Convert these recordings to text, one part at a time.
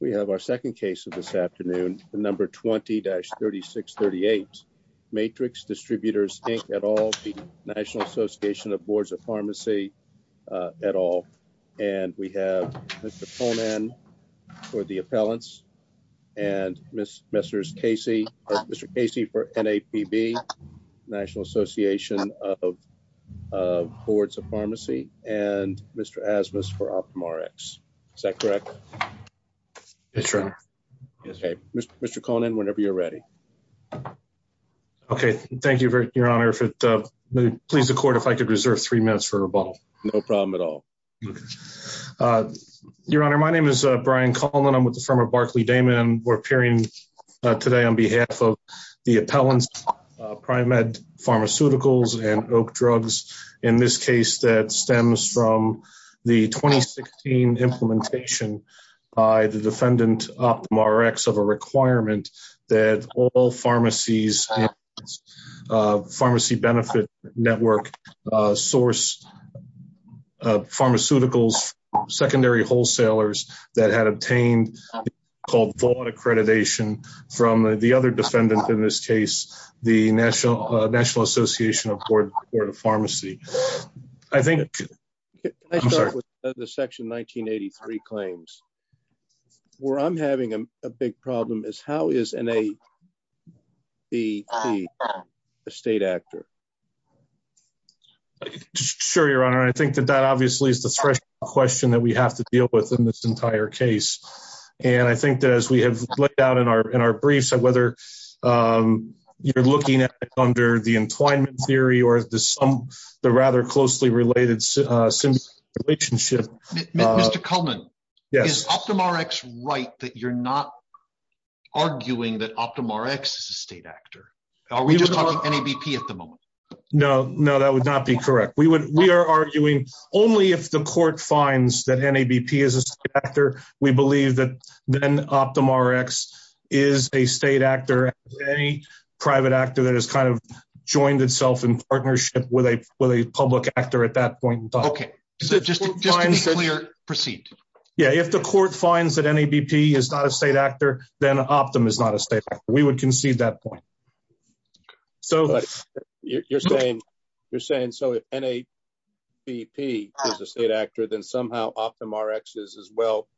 We have our second case of this afternoon, the number 20-3638 Matrix Distributors Inc at all. The National Association of Boards of Pharmacy at all. And we have Mr Conan for the appellants and Miss Messrs Casey. Mr Casey for NAPB, National Association of Boards of Pharmacy and Mr Asmus for patron. Okay, Mr Conan, whenever you're ready. Okay, thank you, your honor. If it please the court, if I could reserve three minutes for rebuttal, no problem at all. Uh, your honor, my name is brian Coleman. I'm with the firm of Barkley Damon. We're appearing today on behalf of the appellants, primed pharmaceuticals and oak drugs. In this by the defendant Optum Rx of a requirement that all pharmacies, uh, pharmacy benefit network, uh, source, uh, pharmaceuticals, secondary wholesalers that had obtained called fraud accreditation from the other defendant. In this case, the National National Association of Board of Pharmacy. I think I'm sorry, the section 1983 claims where I'm having a big problem is how is in a the state actor? Sure, your honor. I think that that obviously is the threshold question that we have to deal with in this entire case. And I think that as we have let down in our, in our briefs and whether, um, you're looking at under the entwinement theory or the some, the rather closely related, uh, relationship. Mr Coleman. Yes. Optum Rx right that you're not arguing that Optum Rx is a state actor. Are we just talking NABP at the moment? No, no, that would not be correct. We would, we are arguing only if the court finds that NABP is a actor. We believe that then Optum Rx is a state actor, any private actor that has kind of joined itself in partnership with a, with a just just to be clear, proceed. Yeah. If the court finds that NABP is not a state actor, then Optum is not a state. We would concede that point. So you're saying you're saying so if NABP is a state actor, then somehow Optum Rx is as well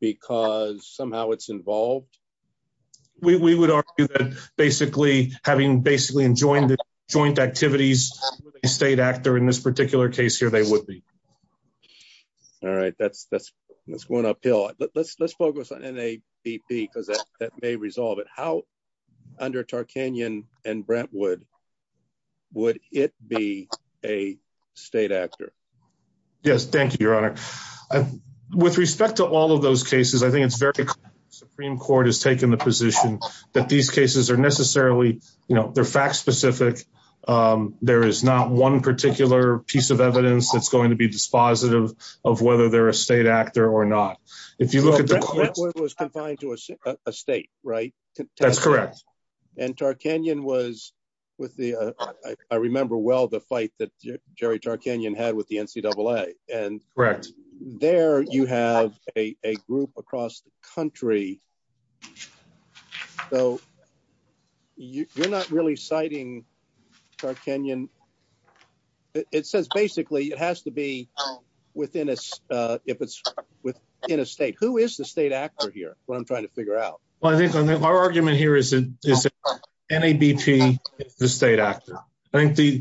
because somehow it's involved. We would argue that basically having basically enjoying the joint activities state actor in this particular case here, they would be all right. That's, that's, that's going uphill. Let's, let's focus on NABP because that may resolve it. How under Tarkanyan and Brentwood would it be a state actor? Yes. Thank you, Your Honor. With respect to all of those cases, I think it's very Supreme Court has taken the position that these cases are necessarily, you know, they're fact specific. Um, there is not one particular piece of evidence that's going to be dispositive of whether they're a state actor or not. If you look at the court was confined to a state, right? That's correct. And Tarkanyan was with the, I remember well the fight that Jerry Tarkanyan had with the N. C. Double A. And there you have a group across the country. So you're not really citing Tarkanyan. It says basically it has to be within us. If it's within a state, who is the state actor here? What I'm trying to figure out? Well, I think our argument here is NABP, the state actor. I think the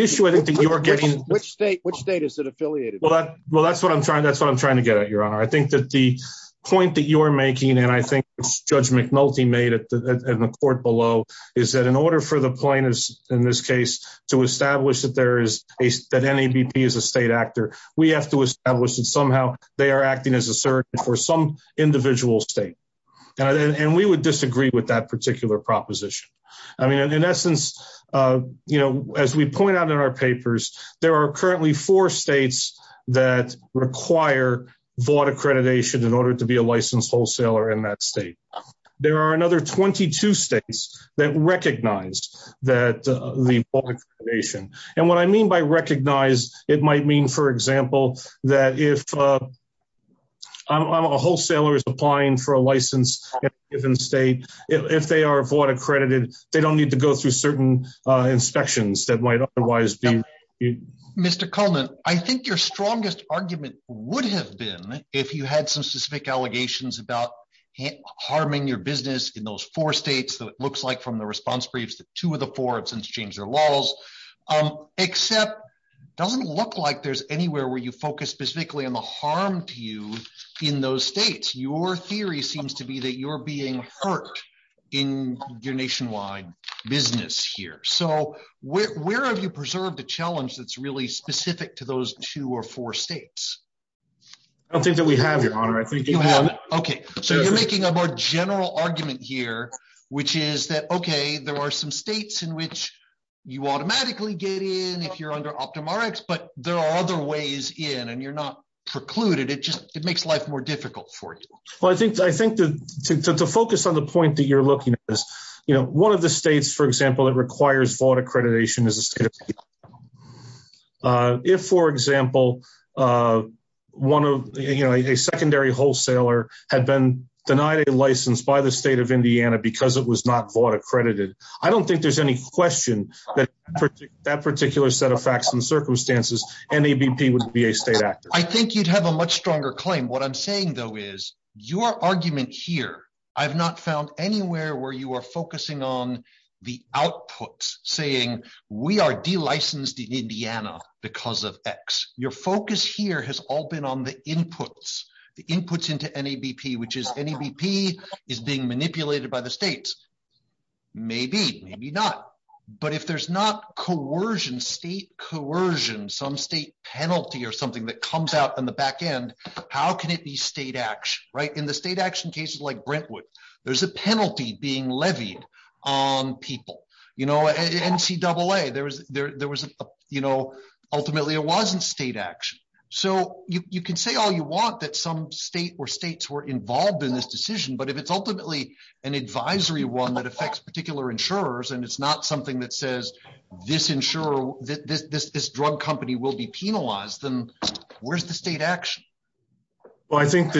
issue I think you're getting which state, which state is it affiliated? Well, that's what I'm trying. That's what I'm trying to get at your honor. I think that the point that you're making and I think Judge McNulty made it in the court below is that in order for the plaintiffs in this case to establish that there is that NABP is a state actor, we have to establish that somehow they are acting as a surgeon for some individual state. And we would disagree with that particular proposition. I mean, in essence, uh, you know, as we point out in our papers, there are currently four states that require vaught accreditation in order to be a licensed wholesaler in that state. There are another 22 states that recognize that the vaught accreditation. And what I mean by recognize, it might mean, for example, that if a wholesaler is applying for a license in a given state, if they are vaught accredited, they don't need to go through certain inspections that might otherwise be. Mr Coleman, I think your strongest argument would have been if you had some specific allegations about harming your business in those four states that it looks like from the response briefs that two of the four have since changed their laws. Um, except doesn't look like there's anywhere where you focus specifically on the harm to you in those states. Your theory seems to be that you're being hurt in your nationwide business here. So where have you preserved the challenge that's really specific to those two or four states? I don't think that we have your honor. I think, okay, so you're making a more general argument here, which is that, okay, there are some states in which you automatically get in if you're under OptumRx, but there are other ways in and you're not precluded. It just it makes life more difficult for you. Well, I think I think to focus on the point that you're looking at this, you know, one of the states, for accreditation is a state. Uh, if, for example, uh, one of, you know, a secondary wholesaler had been denied a license by the state of Indiana because it was not bought accredited. I don't think there's any question that that particular set of facts and circumstances. NABP would be a state actor. I think you'd have a much stronger claim. What I'm saying, though, is your argument here. I have not found anywhere where you are saying we are D licensed in Indiana because of X. Your focus here has all been on the inputs, the inputs into NABP, which is NABP is being manipulated by the states. Maybe, maybe not. But if there's not coercion, state coercion, some state penalty or something that comes out in the back end, how can it be state action right in the state action cases like Brentwood? There's a no N C double A. There was, there was, you know, ultimately it wasn't state action. So you can say all you want that some state or states were involved in this decision. But if it's ultimately an advisory one that affects particular insurers and it's not something that says this insurer, this drug company will be penalized, then where's the state action? Well, I think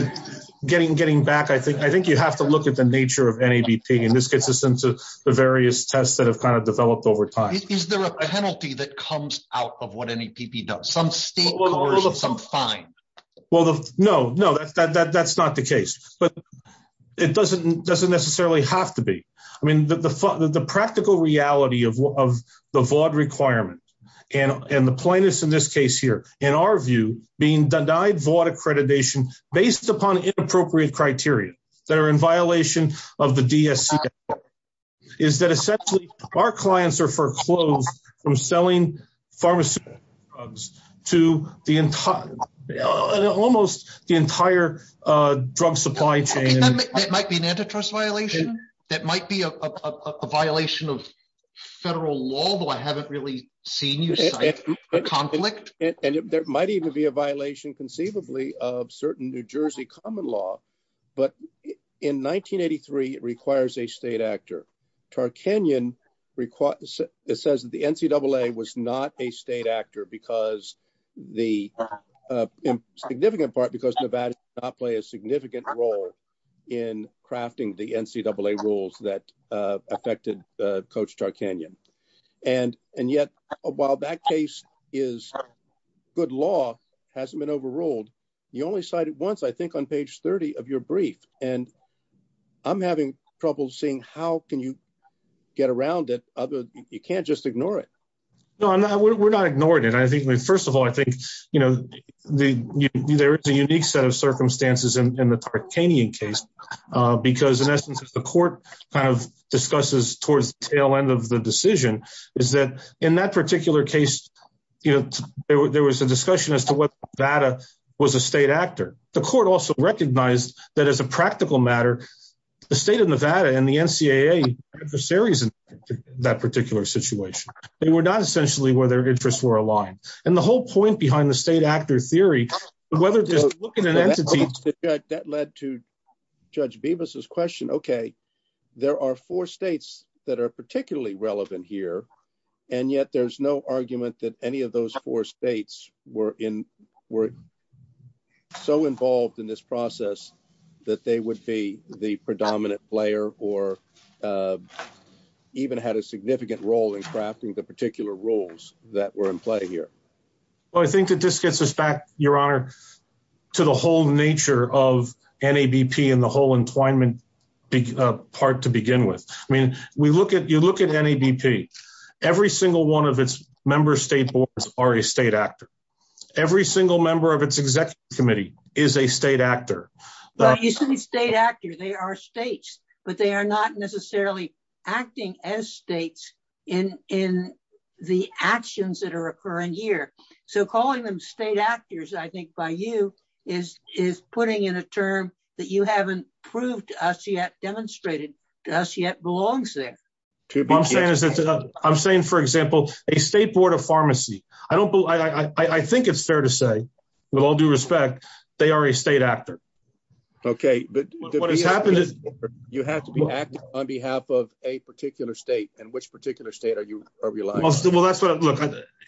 getting getting back, I think I think you have to look at the nature of NABP and this gets us into the various tests that have kind of developed over time. Is there a penalty that comes out of what NABP does? Some state, some fine. Well, no, no, that's not the case, but it doesn't doesn't necessarily have to be. I mean, the practical reality of the vaught requirement and the plaintiffs in this case here, in our view, being denied vaught accreditation based upon inappropriate criteria that are in violation of the D. S. C. Is that essentially our clients are foreclosed from selling pharmaceuticals to the entire, almost the entire drug supply chain. That might be an antitrust violation. That might be a violation of federal law, though. I haven't really seen you conflict and there might even be a violation conceivably of certain New Jersey common law. But in 1983, it requires a state actor. Tarkanyan requires it says that the N. C. Double A. Was not a state actor because the significant part because Nevada not play a significant role in crafting the N. C. Double A. Rules that affected coach Tarkanyan. And and yet, while that case is good law hasn't been overruled. You only cited once, I think, on page 30 of your brief and I'm having trouble seeing how can you get around it? You can't just ignore it. No, we're not ignoring it. I think first of all, I think, you know, the there is a unique set of circumstances in the Tarkanyan case because in essence of the court kind of discusses towards the tail end of the decision is that in that particular case, you know, there was a discussion as to what data was a state actor. The court also recognized that as a practical matter, the state of Nevada and the N. C. A. A. The series in that particular situation, they were not essentially where their interests were aligned. And the whole point behind the state actor theory, whether just look at an entity that led to Judge Beavis's question. Okay, there are four states that are particularly relevant here. And yet there's no argument that any of those four states were in were so involved in this process that they would be the predominant player or, uh, even had a significant role in crafting the particular roles that were in play here. Well, I think that this gets us back your honor to the whole nature of N. A. B. P. And the whole entwinement big part to begin with. I mean, we look at you look at N. A. B. P. Every single one of its member state boards are a state actor. Every single member of its executive committee is a state actor. You see state actor. They are states, but they are not necessarily acting as states in in the actions that are occurring here. So calling them state actors, I think by you is is putting in a term that you haven't proved us yet demonstrated us yet belongs there. I'm saying, for example, a state board of pharmacy. I don't I think it's fair to say, with all due respect, they are a state actor. Okay, but what has happened is you have to be acting on behalf of a particular state. And which particular state are you realize? Well, that's what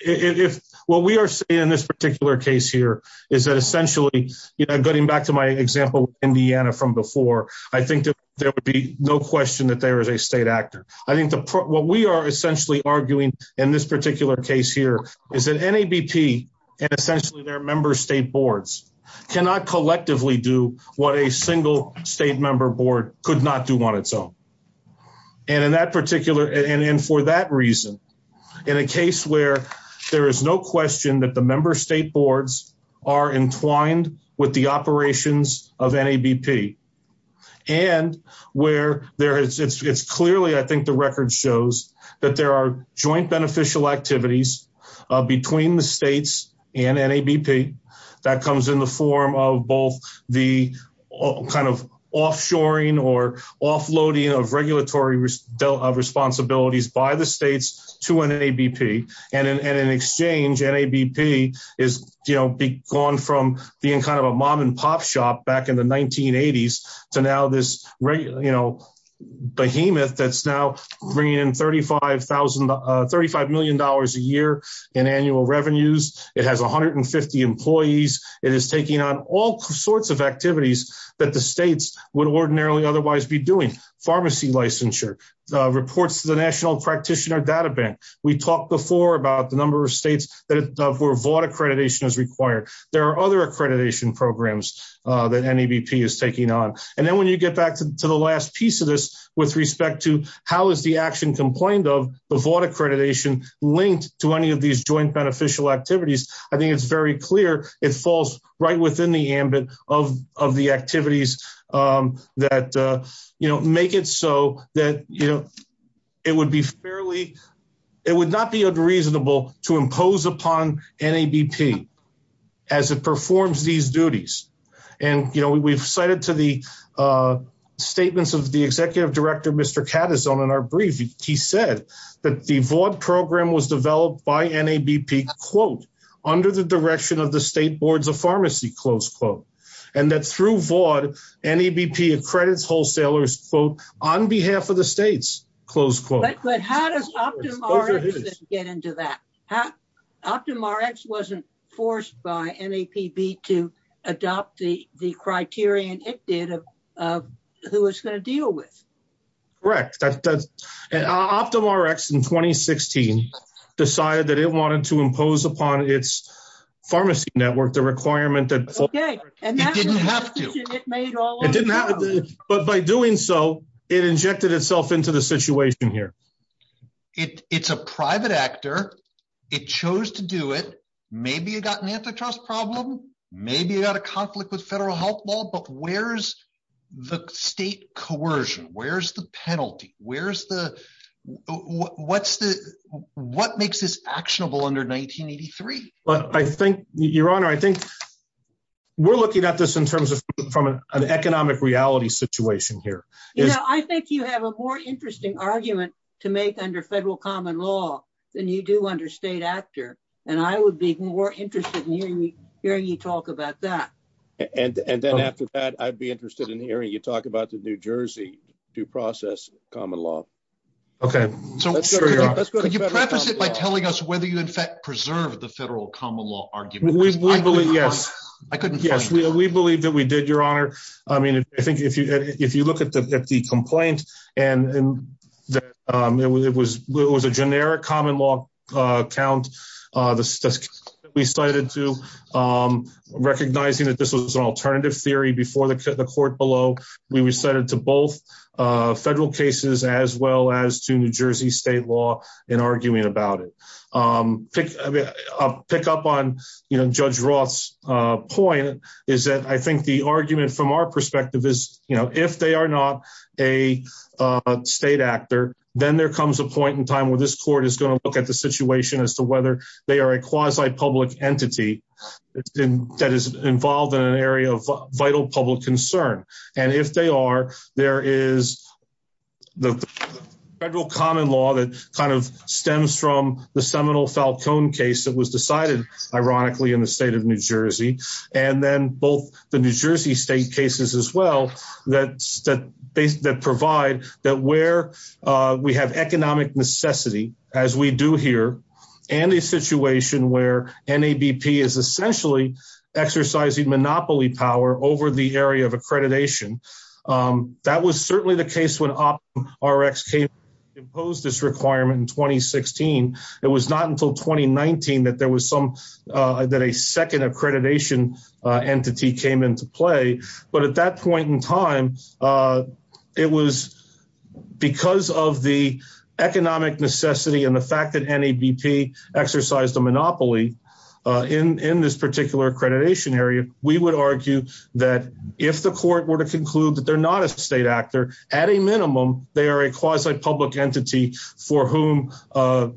if what we are seeing in this particular case here is that essentially, getting back to my example, Indiana from before, I think there would be no question that there is a state actor. I think what we are essentially arguing in this particular case here is that N. A. B. P. And essentially their member state boards cannot collectively do what a single state member board could not do on its own. And in that particular and for that reason, in a case where there is no question that the member state boards are entwined with the operations of N. A. B. P. And where there is, it's clearly I think the record shows that there are joint beneficial activities between the states and N. A. B. P. That comes in the form of both the kind of offshoring or offloading of regulatory risk of responsibilities by the states to N. A. B. P. And in an exchange, N. A. B. P. Is, you know, be gone from being kind of a mom and pop shop back in the 1980s. So now this, you know, behemoth that's now bringing in 35,000 $35 million a year in annual revenues. It has 150 employees. It is taking on all sorts of activities that the states would ordinarily otherwise be doing. Pharmacy licensure reports to the National Practitioner Data Bank. We talked before about the number of states that were vaught accreditation is required. There are other accreditation programs that N. A. B. P. is taking on. And then when you get back to the last piece of this with respect to how is the action complained of the vaught accreditation linked to any of these joint beneficial activities? I think it's very clear it falls right within the ambit of of the activities, um, that, uh, you know, make it so that, you know, it would be fairly. It would not be unreasonable to impose upon N. A. B. P. As it performs these duties. And, you know, we've cited to the, uh, statements of the executive director, Mr Cat is on in our brief. He said that the vaught program was developed by N. A. B. P. Quote under the direction of the state boards of pharmacy, close quote, and that through vaught N. A. B. P. Accredits wholesalers quote on behalf of the states, close quote. But how does get into that? How? Optimize wasn't forced by N. A. P. B. To adopt the criterion it did of who was going to deal with. Correct. That's an optimal Rex in 2016 decided that it wanted to impose upon its pharmacy network. The requirement that didn't have to, but by doing so, it injected itself into the situation here. It's a private actor. It chose to do it. Maybe you got an antitrust problem. Maybe you got a conflict with federal health law. But where's the state coercion? Where's the penalty? Where's the what's the what makes this actionable under 1983? I think your honor, I think we're looking at this in terms of from an economic reality situation here. I think you have a more interesting argument to make under federal common than you do under state actor. And I would be more interested in hearing you talk about that. And then after that, I'd be interested in hearing you talk about the New Jersey due process common law. Okay, so you preface it by telling us whether you in fact preserve the federal common law argument. Yes, I couldn't. Yes, we believe that we did your honor. I mean, I think if you if the complaint and um, it was, it was a generic common law count. Uh, we cited to, um, recognizing that this was an alternative theory before the court below. We decided to both federal cases as well as to New Jersey state law and arguing about it. Um, pick a pick up on, you know, Judge Roth's point is that I think the argument from our perspective is, you know, if they are a state actor, then there comes a point in time where this court is going to look at the situation as to whether they are a quasi public entity that is involved in an area of vital public concern. And if they are, there is the federal common law that kind of stems from the Seminole Falcone case that was decided ironically in the state of New Jersey. And then both the New Jersey state cases as well. That's that that provide that where we have economic necessity as we do here and a situation where N. A. B. P. Is essentially exercising monopoly power over the area of accreditation. Um, that was certainly the case when our X came imposed this requirement in 2016. It was not until 2019 that there was some, uh, that a second accreditation entity came into play. But at that point in time, uh, it was because of the economic necessity and the fact that any BP exercised a monopoly in in this particular accreditation area, we would argue that if the court were to conclude that they're not a state actor at a minimum, they are a quasi public entity for whom, uh,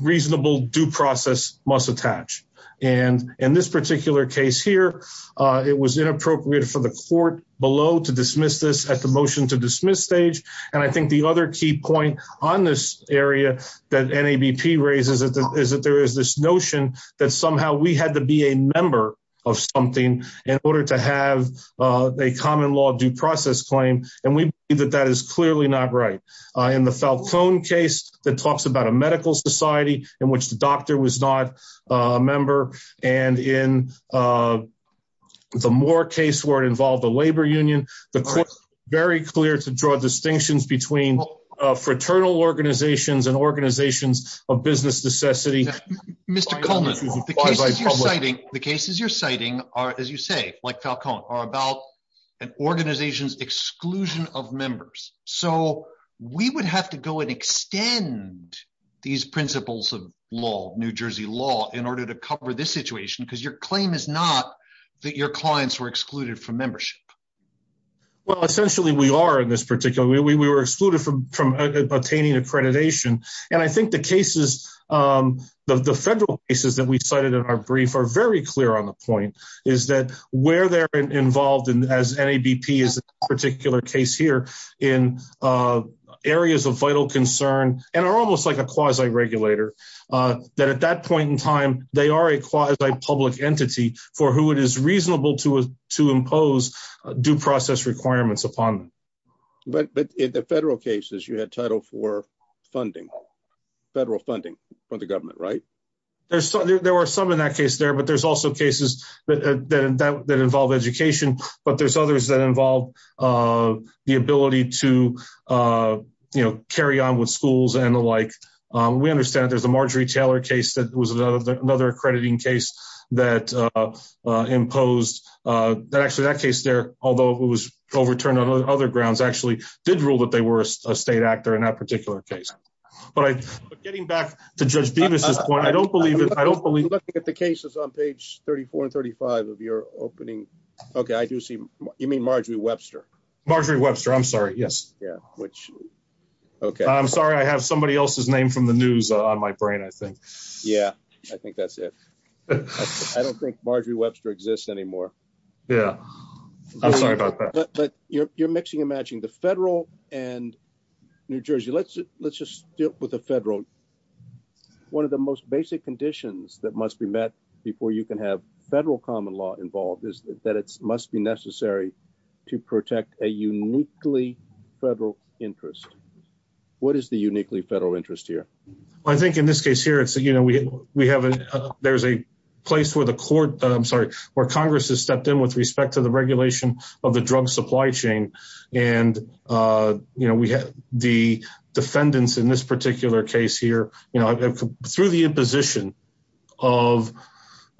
reasonable due process must attach. And in this particular case here, uh, it was inappropriate for the court below to dismiss this at the motion to dismiss stage. And I think the other key point on this area that N. A. B. P. Raises is that there is this notion that somehow we had to be a member of something in order to have a common law due process claim. And we believe that that is clearly not right in the Falcone case that talks about a medical society in which the doctor was not a member. And in, uh, the more case where it involved the labor union, the court very clear to draw distinctions between fraternal organizations and organizations of business necessity. Mr Coleman, the cases you're citing the cases you're citing are, as you say, like Falcone are about an organization's exclusion of these principles of law, New Jersey law in order to cover this situation because your claim is not that your clients were excluded from membership. Well, essentially, we are in this particular way we were excluded from from attaining accreditation. And I think the cases, um, the federal cases that we cited in our brief are very clear on the point is that where they're involved in as N. A. B. P. Is a particular case here in, uh, areas of and are almost like a quasi regulator. Uh, that at that point in time, they are a quasi public entity for who it is reasonable to to impose due process requirements upon. But in the federal cases, you had title for funding federal funding from the government, right? There's there were some in that case there, but there's also cases that that involve education. But there's others that involve, uh, the ability to, uh, you know, carry on with schools and the like. We understand there's a Marjorie Taylor case that was another accrediting case that, uh, imposed that actually that case there, although it was overturned on other grounds, actually did rule that they were a state actor in that particular case. But getting back to Judge Beavis's point, I don't believe it. I don't believe that the case is on page 34 and 35 of your opening. Okay, I do see you mean Marjorie Webster. Marjorie Webster. I'm sorry. Yes. Yeah. Which? Okay. I'm sorry. I have somebody else's name from the news on my brain, I think. Yeah, I think that's it. I don't think Marjorie Webster exists anymore. Yeah, I'm sorry about that. But you're mixing and matching the federal and New Jersey. Let's let's just deal with the federal. One of the most basic conditions that must be met before you can have federal common law involved is that it must be necessary to protect a uniquely federal interest. What is the uniquely federal interest here? I think in this case here, it's, you know, we have, there's a place where the court, I'm sorry, where Congress has stepped in with respect to the regulation of the drug supply chain. And, uh, you know, we have the defendants in this particular case here, you know, through the imposition of,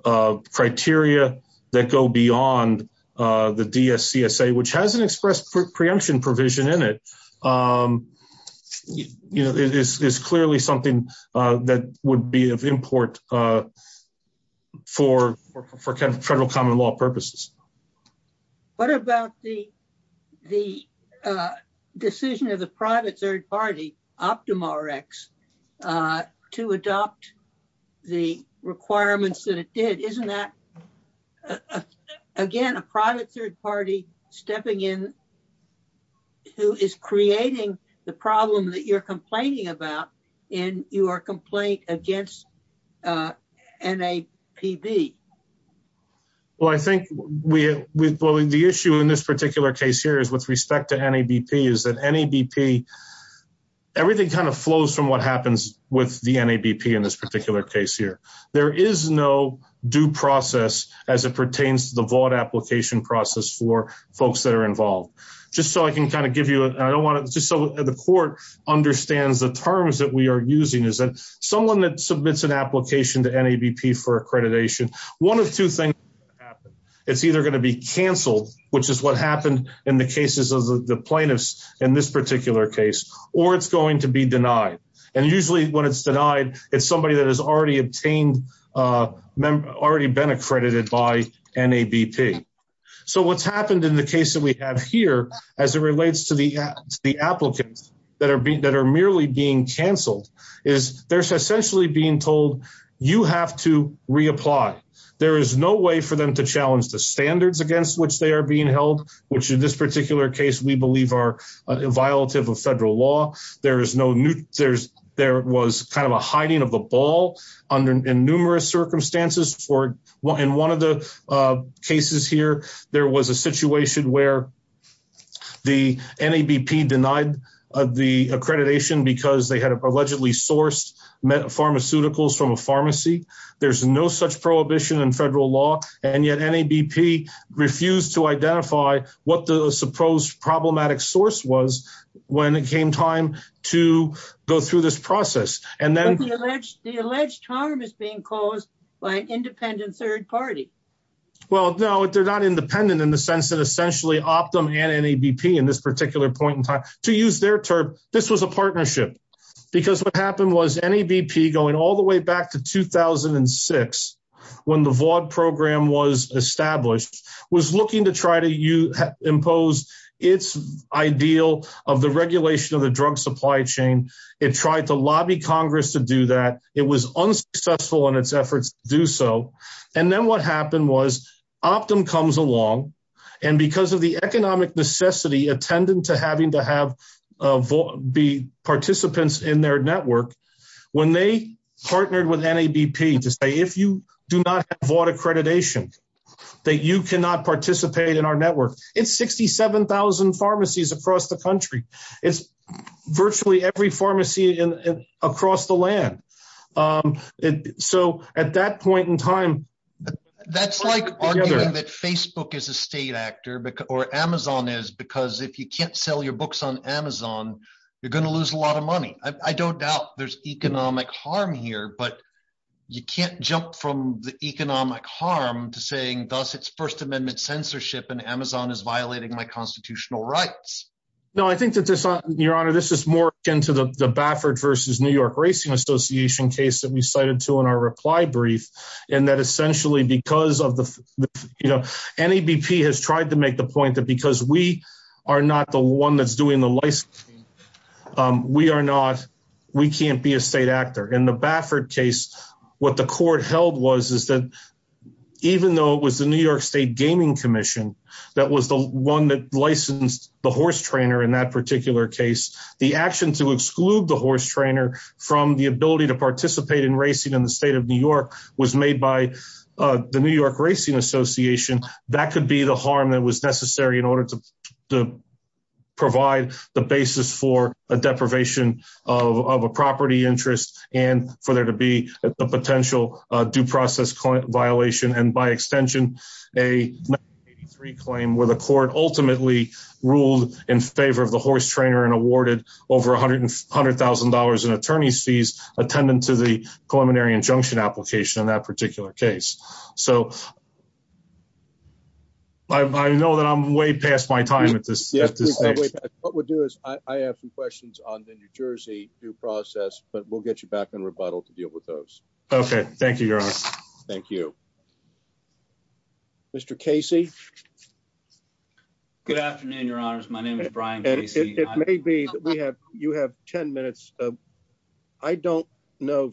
uh, criteria that go beyond, uh, the D. S. C. S. A. Which hasn't expressed preemption provision in it. Um, you know, it is clearly something, uh, that would be of import, uh, for for federal common law purposes. What about the the, uh, decision of the private third party Optima Rex, uh, to adopt the requirements that it did? Isn't that again, a private third party stepping in who is creating the problem that you're complaining about in your complaint against, uh, N. A. P. B. Well, I think we, well, the issue in this particular case here is with respect to N. A. B. P. Is that N. A. B. P. Everything kind of flows from what happens with the N. A. B. P. In this particular case here, there is no due process as it pertains to the vaught application process for folks that are involved. Just so I can kind of give you, I don't want it just so the court understands the terms that we are using is that someone that submits an application to N. A. B. P. For accreditation. One of two things. It's either going to be canceled, which is what happened in the cases of the plaintiffs in this particular case, or it's going to be denied. And usually when it's denied, it's somebody that has already obtained, uh, already been accredited by N. A. B. P. So what's happened in the case that we have here as it relates to the applicants that are being that are merely being canceled is there's essentially being told you have to reapply. There is no way for them to challenge the standards against which they are being held, which in this particular case we believe are violative of federal law. There is no new. There's there was kind of a hiding of the ball under numerous circumstances for in one of the cases here, there was a situation where the N. A. B. P. Denied the accreditation because they had allegedly sourced pharmaceuticals from a pharmacy. There's no such prohibition in federal law. And yet N. A. B. P. Refused to identify what the supposed problematic source was when it came time to go through this process. And then the alleged harm is being caused by independent third party. Well, no, they're not independent in the sense that essentially optimum and N. A. B. P. In this particular point in time to use their term. This was a partnership because what happened was N. A. B. P. Going all the way back to 2006 when the vaude program was established, was looking to try to impose its ideal of the regulation of the drug supply chain. It tried to lobby Congress to do that. It was unsuccessful in its efforts to do so. And then what happened was Optum comes along and because of the economic necessity attendant to having to have be participants in their network when they partnered with N. A. B. P. To say if you do not have vaude accreditation that you cannot participate in our network, it's 67,000 pharmacies across the country. It's virtually every pharmacy across the land. Um, so at that point in time, that's like arguing that Facebook is a state actor or Amazon is because if you can't sell your books on Amazon, you're gonna lose a lot of money. I don't doubt there's economic harm here, but you can't jump from the economic harm to saying thus its First Amendment censorship and Amazon is violating my constitutional rights. No, I think that this your honor, this is more into the Baffert versus New York Racing Association case that we cited to in our reply brief and that essentially because of the, you know, any BP has tried to make the point that because we are not the one that's doing the license, we are not. We can't be a state actor in the Baffert case. What the court held was is that even though it was the New York State Gaming Commission that was the one that licensed the horse trainer in that particular case, the action to exclude the horse trainer from the ability to participate in racing in the state of New York was made by the New York Racing Association. That could be the harm that was necessary in order to to provide the basis for a deprivation of a property interest and for there to be a potential due process violation and by extension, a three claim where the court ultimately ruled in favor of the horse trainer and awarded over $100,000 in attorney's fees attendant to the preliminary injunction application in that particular case. So I know that I'm way past my time at this. What would do is I have some questions on the New Jersey due process, but we'll get you back in rebuttal to deal with those. Okay, thank you. Your honor. Thank you. Mr Casey. Good afternoon. Your honors. My name is Brian. Maybe we have you have 10 minutes. I don't know.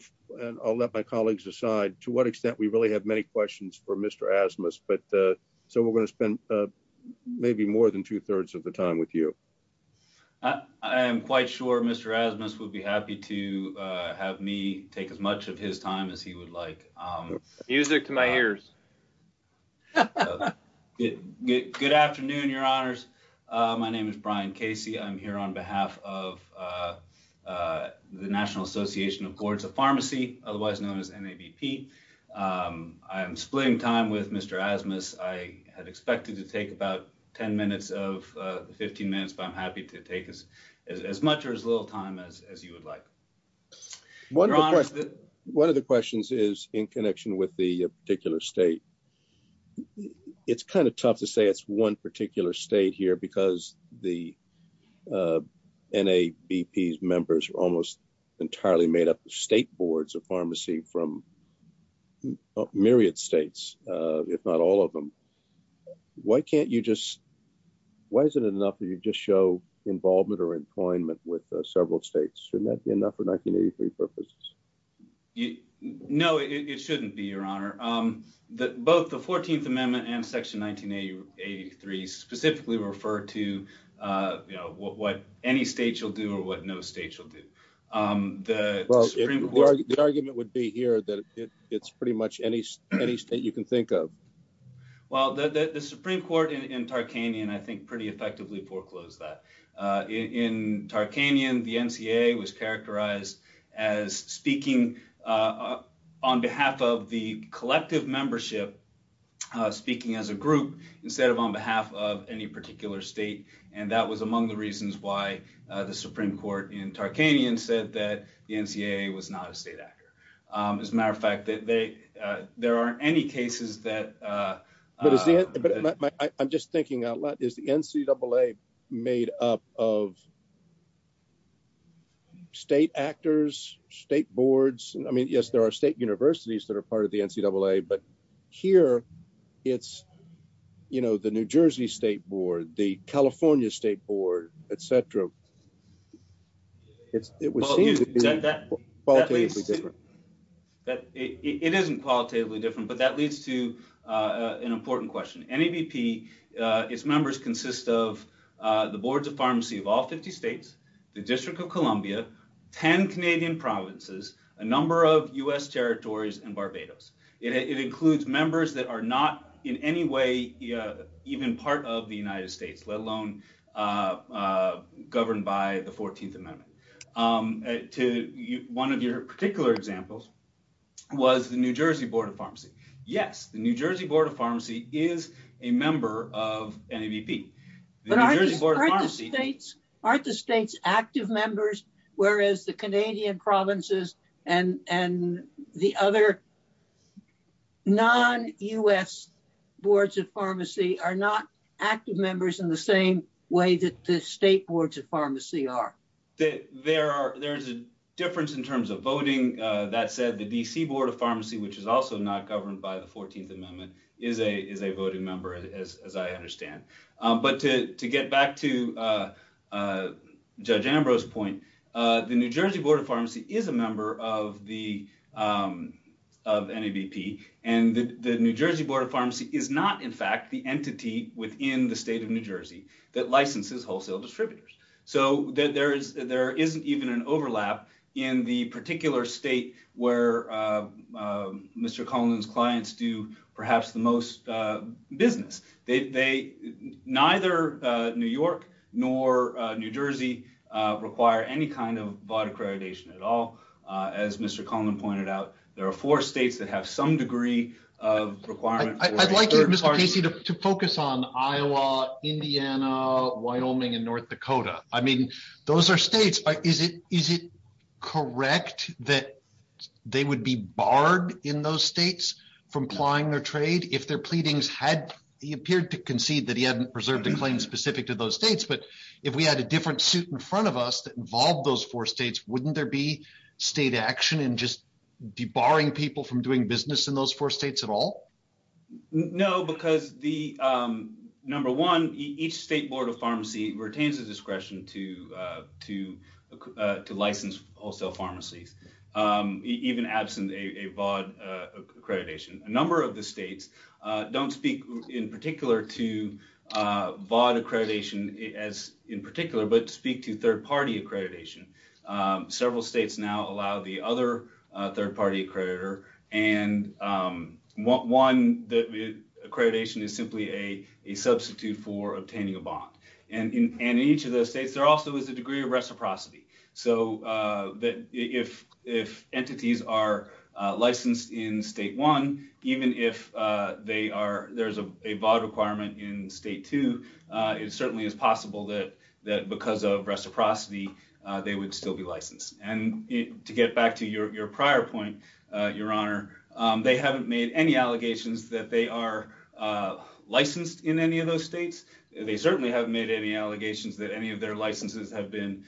I'll let my colleagues decide to what extent we really have many questions for Mr Asmus. But so we're gonna spend maybe more than 2 3rds of the time with you. I am quite sure Mr Asmus would be happy to have me take as much of his time as he would like. Um, music to my ears. Yeah, good afternoon. Your honors. My name is Brian Casey. I'm here on behalf of, uh, uh, the National Association of Courts of Pharmacy, otherwise known as N. A. B. P. Um, I am splitting time with Mr Asmus. I had expected to take about 10 minutes of 15 minutes, but I'm happy to take us as much or as little time as you would like. One of the questions is in connection with the particular state. It's kind of tough to say it's one particular state here because the, uh, N. A. B. P. S. Members almost entirely made up the state boards of pharmacy from myriad states, if not all of them. Why can't you just Why is it enough that you just show involvement or employment with several states? Shouldn't that be enough for 1983 purposes? You know, it shouldn't be your honor. Um, that both the 14th Amendment and any state you'll do or what no state you'll do. Um, the argument would be here that it's pretty much any any state you can think of. Well, the Supreme Court in Tarkanian, I think, pretty effectively foreclosed that in Tarkanian, the N. C. A. Was characterized as speaking, uh, on behalf of the collective membership, speaking as a group instead of on behalf of any particular state. And that was among the reasons why the Supreme Court in Tarkanian said that the N. C. A. Was not a state actor. Um, as a matter of fact that they there aren't any cases that, uh, but I'm just thinking a lot is the N. C. Double A. Made up of state actors, state boards. I mean, yes, there are state universities that are state board, the California State Board, etcetera. It's it would seem that that well, that it isn't qualitatively different. But that leads to, uh, an important question. Any BP? Uh, its members consist of the boards of pharmacy of all 50 states, the District of Columbia, 10 Canadian provinces, a number of U. S. territories and Barbados. It includes members that are not in any way even part of the United States, let alone, uh, governed by the 14th Amendment. Um, to one of your particular examples was the New Jersey Board of Pharmacy. Yes, the New Jersey Board of Pharmacy is a member of any BP. But I just bought pharmacy dates aren't the state's active members, whereas the Canadian provinces and and the other non U. S. Boards of Pharmacy are not active members in the same way that the state boards of pharmacy are that there are. There's a difference in terms of voting. That said, the D. C. Board of Pharmacy, which is also not governed by the 14th Amendment, is a is a voting member, as I understand. But to get back to, uh, uh, Judge Ambrose point. Uh, the New Jersey Board of Pharmacy is a member of the, um, of any BP. And the New Jersey Board of Pharmacy is not, in fact, the entity within the state of New Jersey that licenses wholesale distributors so that there is there isn't even an overlap in the particular state where, uh, Mr Collins clients do perhaps the most business. They neither New York nor New Jersey require any kind of body accreditation at all. As Mr Coleman pointed out, there are four states that have some degree of requirement. I'd like you, Mr Casey, to focus on Iowa, Indiana, Wyoming and North Dakota. I mean, those are states. Is it? Is it correct that they would be barred in those states from applying their trade if their pleadings had he specific to those states? But if we had a different suit in front of us that involved those four states, wouldn't there be state action and just debarring people from doing business in those four states at all? No, because the, um, number one, each state Board of Pharmacy retains the discretion to, uh, to, uh, to license wholesale pharmacies. Um, even absent a vaude accreditation, a number of the states don't speak in particular to, uh, bought accreditation as in particular, but speak to third party accreditation. Um, several states now allow the other third party creditor and, um, one that accreditation is simply a substitute for obtaining a bond. And in each of those states, there also is a degree of reciprocity so that if if entities are licensed in state one, even if, uh, they are, there's a vaude requirement in state to, uh, it certainly is possible that that because of reciprocity, they would still be licensed. And to get back to your prior point, your honor, they haven't made any allegations that they are, uh, licensed in any of those states. They certainly haven't made any allegations that any of their licenses have been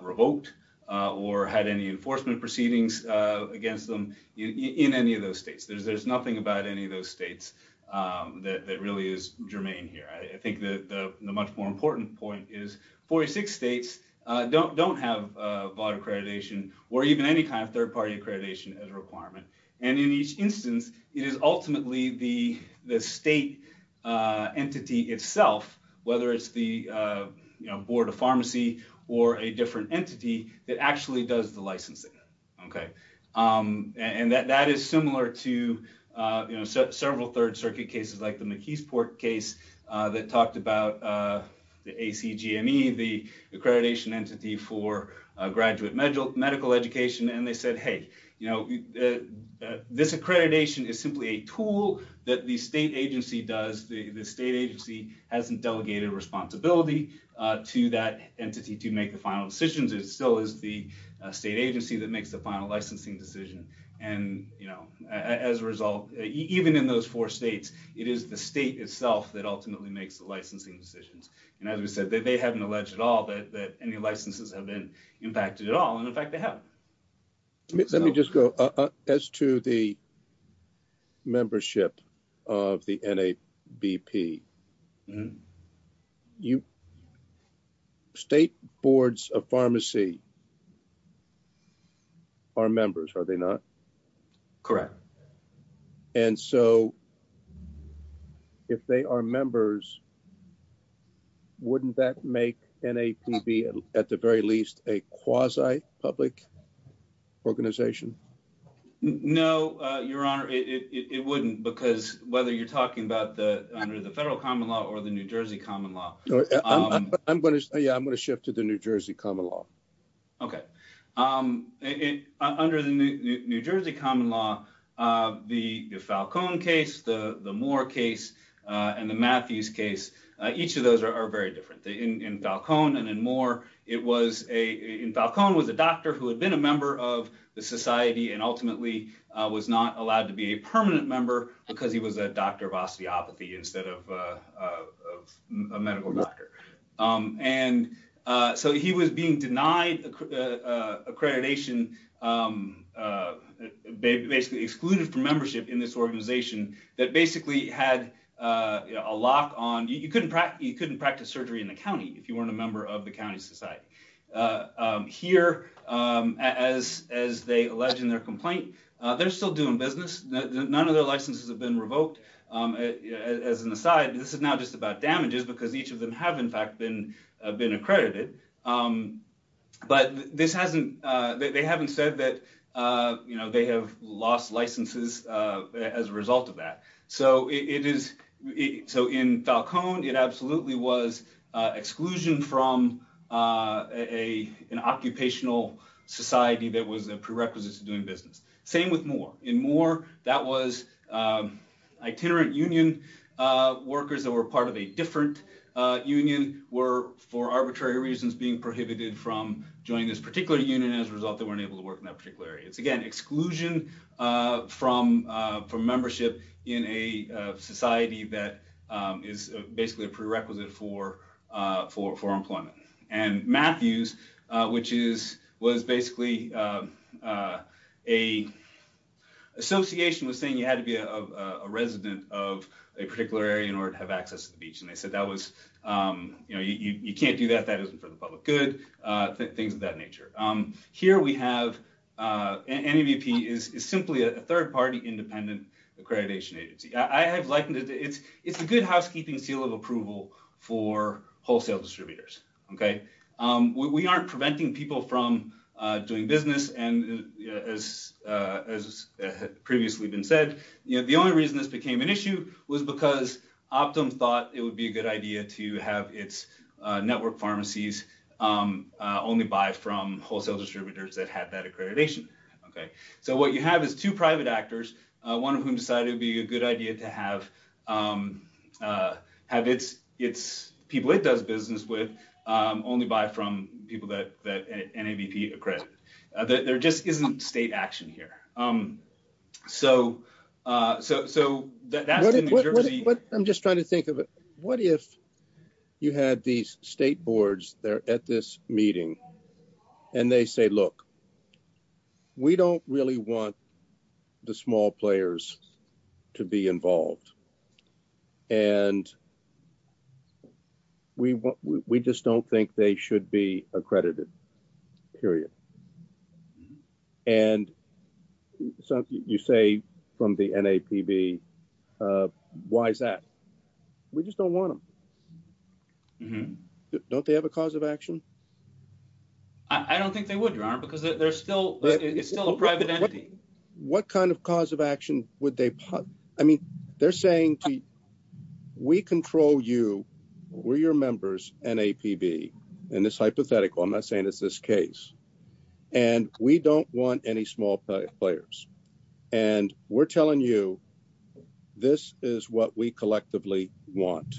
revoked or had any enforcement proceedings against them in any of those states. There's nothing about any of those states, um, that really is germane here. I think that the much more important point is 46 states don't have vaude accreditation or even any kind of third party accreditation as requirement. And in each instance, it is ultimately the state, uh, entity itself, whether it's the, uh, you know, board of pharmacy or a different entity that actually does the licensing. Okay. Um, and that that is similar to, uh, you know, several third circuit cases like the McKees port case, uh, that talked about, uh, the A. C. G. M. E. The accreditation entity for graduate medical education. And they said, Hey, you know, uh, this accreditation is simply a tool that the state agency does. The state agency hasn't delegated responsibility to that entity to make the final decisions. It still is the state agency that makes the final licensing decision. And, you know, as a result, even in those four states, it is the state itself that ultimately makes the licensing decisions. And as we said, they haven't alleged at all that any licenses have been impacted at all. And in fact, they mhm. You state boards of pharmacy are members, are they not? Correct. And so if they are members, wouldn't that make an A. P. B. At the very least, a quasi public organization? No, Your Honor, it wouldn't. Because whether you're common law or the New Jersey common law, I'm gonna Yeah, I'm gonna shift to the New Jersey common law. Okay. Um, under the New Jersey common law, uh, the Falcone case, the more case on the Matthews case, each of those are very different in Falcone. And in more, it was a in Falcone was a doctor who had been a member of the society and ultimately was not allowed to be a of medical doctor. Um, and, uh, so he was being denied accreditation. Um, uh, basically excluded from membership in this organization that basically had a lock on. You couldn't practice. You couldn't practice surgery in the county if you weren't a member of the county society. Uh, here, um, as as they alleged in their complaint, they're still doing business. None of their side. This is not just about damages because each of them have, in fact, been been accredited. Um, but this hasn't. They haven't said that, uh, you know, they have lost licenses as a result of that. So it is. So in Falcone, it absolutely was exclusion from, uh, a an occupational society that was a prerequisite to doing business. Same with more in more. That was, uh, itinerant union workers that were part of a different union were for arbitrary reasons being prohibited from joining this particular union. As a result, they weren't able to work in that particular area. It's again, exclusion from from membership in a society that is basically a prerequisite for for for employment. And Matthews, which is was basically, uh, a association was saying you had to be a resident of a particular area in order to have access to the beach. And they said that was, um, you know, you can't do that. That isn't for the public good. Uh, things of that nature. Um, here we have, uh, any VP is simply a third party independent accreditation agency. I have likened it. It's it's a good housekeeping seal of approval for wholesale distributors. Okay? Um, we aren't preventing people from doing business. And as, uh, as previously been said, you know, the only reason this became an issue was because optimum thought it would be a good idea to have its network pharmacies, um, only buy from wholesale distributors that had that accreditation. Okay, so what you have is two private actors, one of whom decided to be a good idea to have, um, uh, have its its people. It does business with, um, only buy from people that that N A. V. P. Accredited. There just isn't state action here. Um, so, uh, so, so that that's what I'm just trying to think of it. What if you had these state boards there at this meeting and they say, Look, we don't really want the small players to be involved. And we we just don't think they should be accredited. Period. And something you say from the N. A. P. V. Uh, why is that? We just don't want him. Mhm. Don't they have a cause of action? I don't think they would, Your Honor, because there's still it's still a private entity. What kind of cause of action would they? I mean, they're saying we control you. We're your members. N. A. P. V. In this hypothetical, I'm not saying it's this case, and we don't want any small players. And we're telling you this is what we collectively want.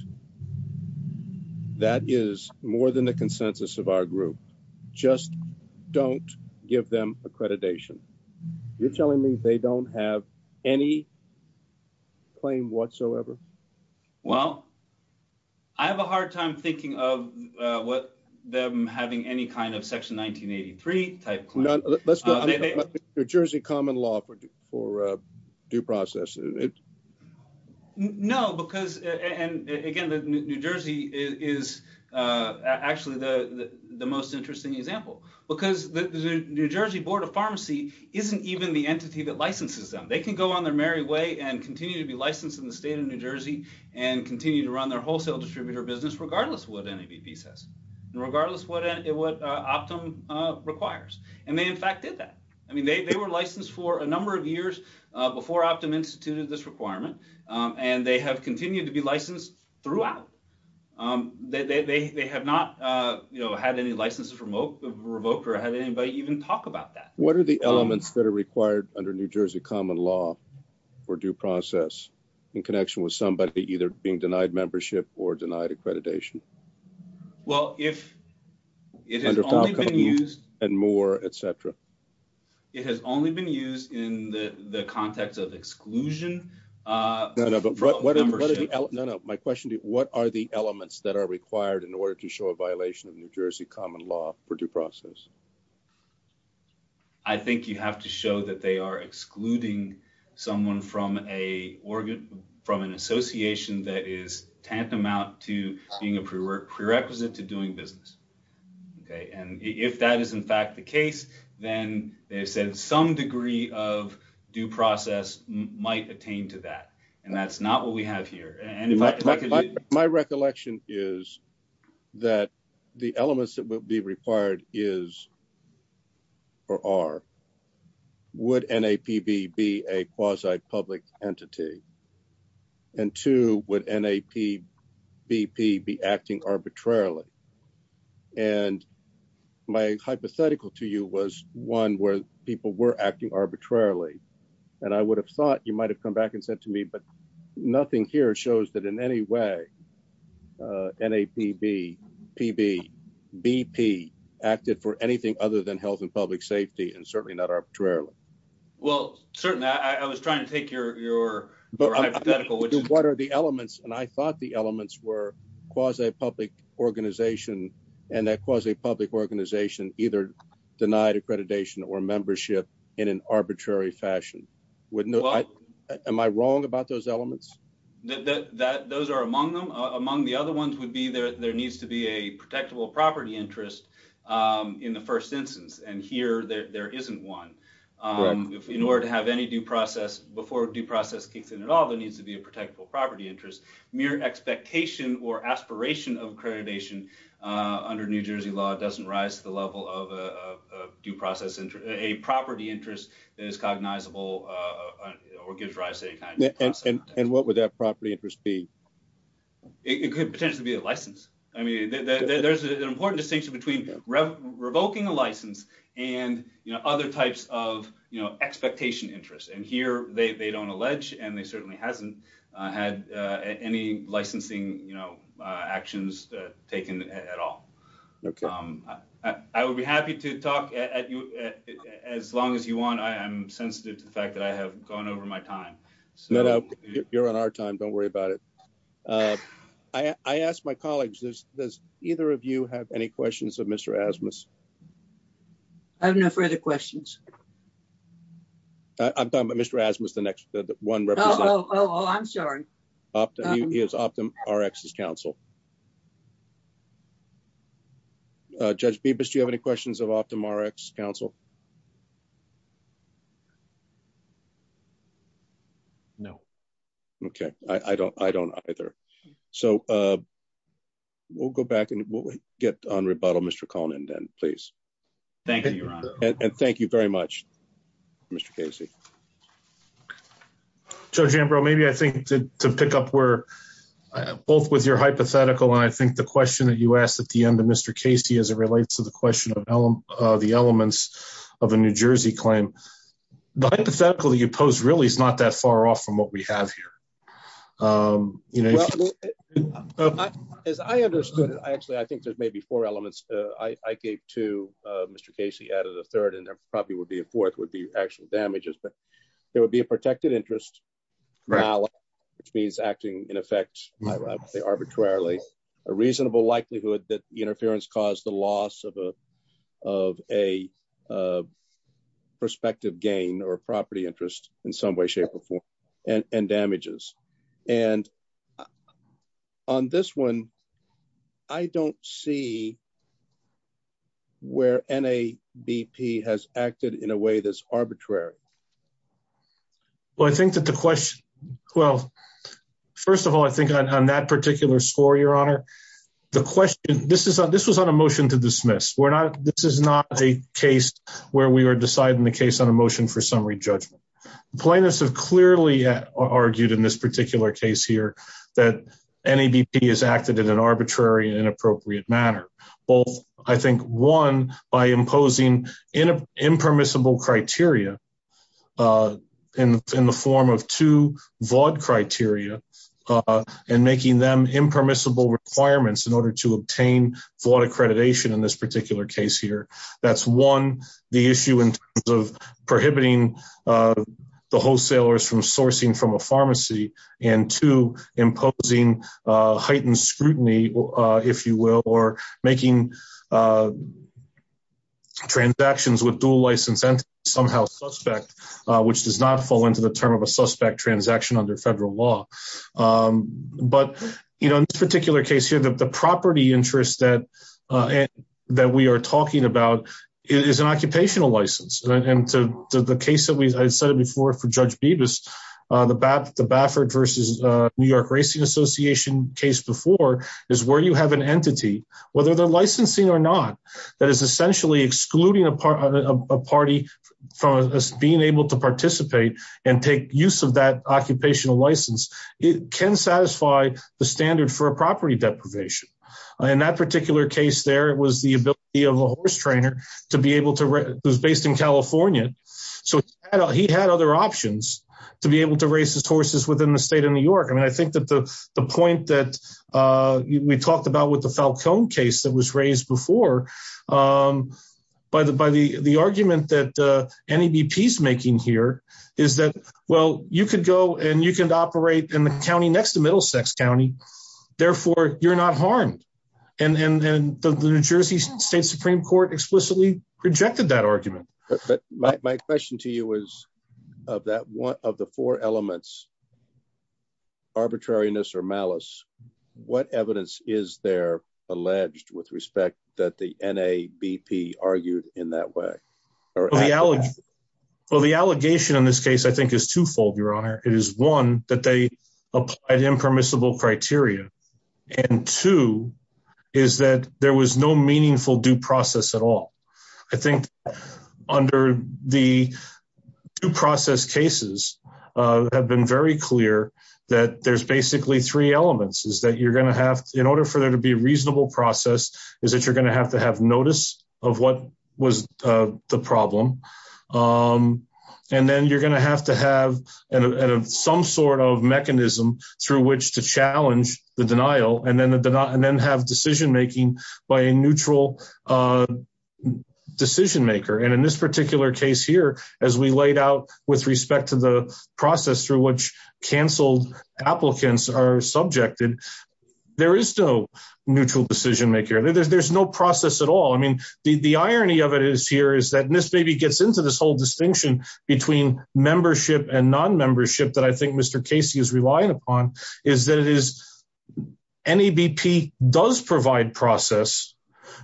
That is more than the consensus of our group. Just don't give them whatsoever. Well, I have a hard time thinking of what them having any kind of Section 1983 type. Let's go to Jersey. Common law for for due process. No, because and again, the New Jersey is actually the most interesting example because the New Jersey Board of Pharmacy isn't even the entity that licenses them. They could go on their merry way and continue to be licensed in the state of New Jersey and continue to run their wholesale distributor business, regardless what any piece has, regardless what it what Optum requires. And they, in fact, did that. I mean, they were licensed for a number of years before Optum instituted this requirement, and they have continued to be licensed throughout. Um, they have not, uh, you know, had any licenses remote revoked or had anybody even talk about that. What are the elements that are required under New Jersey common law for due process in connection with somebody either being denied membership or denied accreditation? Well, if it has only been used and more etcetera, it has only been used in the context of exclusion. Uh, no, no, no, no, no. My question to you. What are the elements that are required in order to show a violation of New Jersey common law for due process? I think you have to show that they are excluding someone from a organ from an association that is tantamount to being a prerequisite to doing business. Okay. And if that is, in fact, the case, then they said some degree of due process might attain to that. And that's not what we have here. My recollection is that the elements that will be required is or are would N. A. P. B. B. A. Quasi public entity. And two would N. A. P. B. P. Be acting arbitrarily. And my hypothetical to you was one where people were acting arbitrarily. And I would have thought you might have come back and said to me, but nothing here shows that in any way, uh, N. A. P. B. P. B. B. P. Acted for anything other than health and public safety and certainly not arbitrarily. Well, certainly I was trying to take your your hypothetical. What? What are the elements? And I thought the elements were cause a public organization and that cause a public organization either denied accreditation or membership in an arbitrary fashion. Wouldn't I? Am I wrong about those elements that those are among them? Among the other ones would be there. There needs to be a protectable property interest, um, in the first instance. And here there isn't one. Um, in order to have any due process before due process kicks in at all, there needs to be a protectable property interest. Mere expectation or aspiration of accreditation under New process into a property interest that is cognizable, uh, or gives rise to a kind of and what would that property interest be? It could potentially be a license. I mean, there's an important distinction between revoking a license and other types of expectation interest. And here they don't allege, and they certainly hasn't had any licensing, you know, actions taken at all. Okay. Um, I would be happy to talk at you as long as you want. I am sensitive to the fact that I have gone over my time. So you're on our time. Don't worry about it. Uh, I asked my colleagues this. Does either of you have any questions of Mr. Asmus? I have no further questions. I've done, but Mr. Asmus, the next one. Oh, I'm sorry. Up is optimum. Rx is counsel. Judge Bibas. Do you have any questions of optimum? Rx Council? No. Okay. I don't. I don't either. So, uh, we'll go back and we'll get on rebuttal. Mr. Conan, then, please. Thank you. And thank you very much, Mr Casey. So, Jim, bro, maybe I think to pick up where both with your hypothetical and I end of Mr Casey as it relates to the question of the elements of a New Jersey claim. The hypothetical you post really is not that far off from what we have here. Um, you know, as I understood it, actually, I think there's maybe four elements I gave to Mr Casey out of the third, and there probably would be a fourth would be actually damages. But there would be a protected interest now, which means acting in effect arbitrarily, a interference caused the loss of a of a, uh, perspective gain or property interest in some way, shape or form and damages. And on this one, I don't see where N. A. B. P. Has acted in a way that's arbitrary. Well, I think that the question well, first of all, I think on that particular score, your honor, the question this is this was on a motion to dismiss. We're not. This is not a case where we were deciding the case on a motion for summary judgment. Plaintiffs have clearly argued in this particular case here that any BP has acted in an arbitrary and inappropriate manner. Well, I think one by imposing in a impermissible criteria, uh, in impermissible requirements in order to obtain flawed accreditation in this particular case here, that's one. The issue in terms of prohibiting, uh, the wholesalers from sourcing from a pharmacy and to imposing heightened scrutiny, if you will, or making, uh, transactions with dual license and somehow suspect, which does not fall into the term of a suspect transaction under federal law. Um, but, you know, in this particular case here, the property interest that, uh, that we are talking about is an occupational license. And to the case that I said it before for Judge Beavis, the bat, the Baffert versus New York Racing Association case before is where you have an entity, whether they're licensing or not, that is essentially excluding a part of a party from us being able to participate and take use of that occupational license. It can satisfy the standard for a property deprivation. In that particular case, there was the ability of a horse trainer to be able to was based in California. So he had other options to be able to race his horses within the state of New York. I mean, I think that the point that, uh, we talked about with the Falcone case that was raised before, um, by the, by the, the argument that any BP is making here is that, well, you could go and you can operate in the county next to Middlesex County. Therefore, you're not harmed. And, and, and the New Jersey State Supreme Court explicitly rejected that argument. But my question to you is of that one of the four elements arbitrariness or malice. What evidence is there alleged with respect that the N. A. B. P. Argued in that way or the allegations? Well, the allegation in this case, I think, is twofold. Your honor. It is one that they applied impermissible criteria and two is that there was no meaningful due process at all. I think under the due process cases have been very clear that there's basically three elements is that you're gonna have in order for there to be reasonable process is that you're gonna have to have notice of what was the problem. Um, and then you're gonna have to have some sort of mechanism through which to challenge the denial and then the and then have decision making by a neutral, uh, decision maker. And in this particular case here, as we laid out with respect to the process through which canceled applicants are subjected, there is no neutral decision maker. There's no process at all. I mean, the irony of it is here is that this baby gets into this whole distinction between membership and non membership that I think Mr Casey is relying upon is that it is any B. P. Does provide process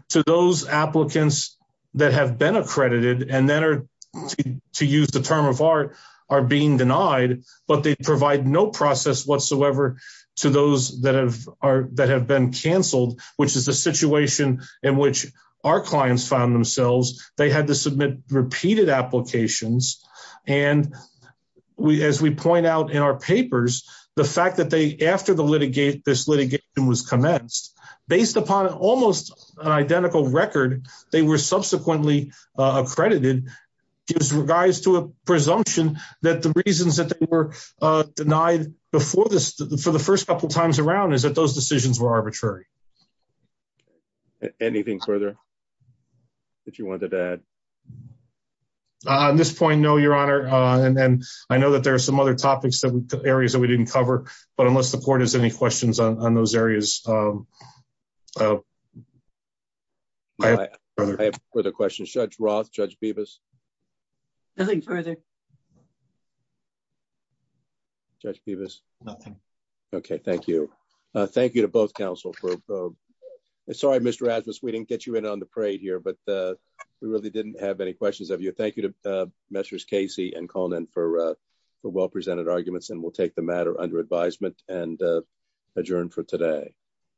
to those applicants that have been accredited and that are to use the term of art are being denied. But they provide no process whatsoever to those that have that have been canceled, which is the situation in which our clients found themselves. They had to submit repeated applications. And as we point out in our papers, the fact that they after the litigate, this litigation was commenced based upon almost identical record, they were subsequently accredited in regards to a presumption that the reasons that they were denied before this for the first couple times around is that those decisions were arbitrary. Anything further that you wanted to add on this point? No, Your Honor. And I know that there are some other topics that areas that we didn't cover. But unless the court is any questions on those areas, um, uh, I have further questions. Judge Roth. Judge Beavis. Nothing further. Judge Beavis. Nothing. Okay. Thank you. Thank you to both counsel for. Uh, sorry, Mr Rasmus. We didn't get you in on the parade here, but, uh, we really didn't have any questions of you. Thank you to, uh, measures Casey and called in for, uh, well presented arguments and we'll take the matter under advisement and adjourned for today.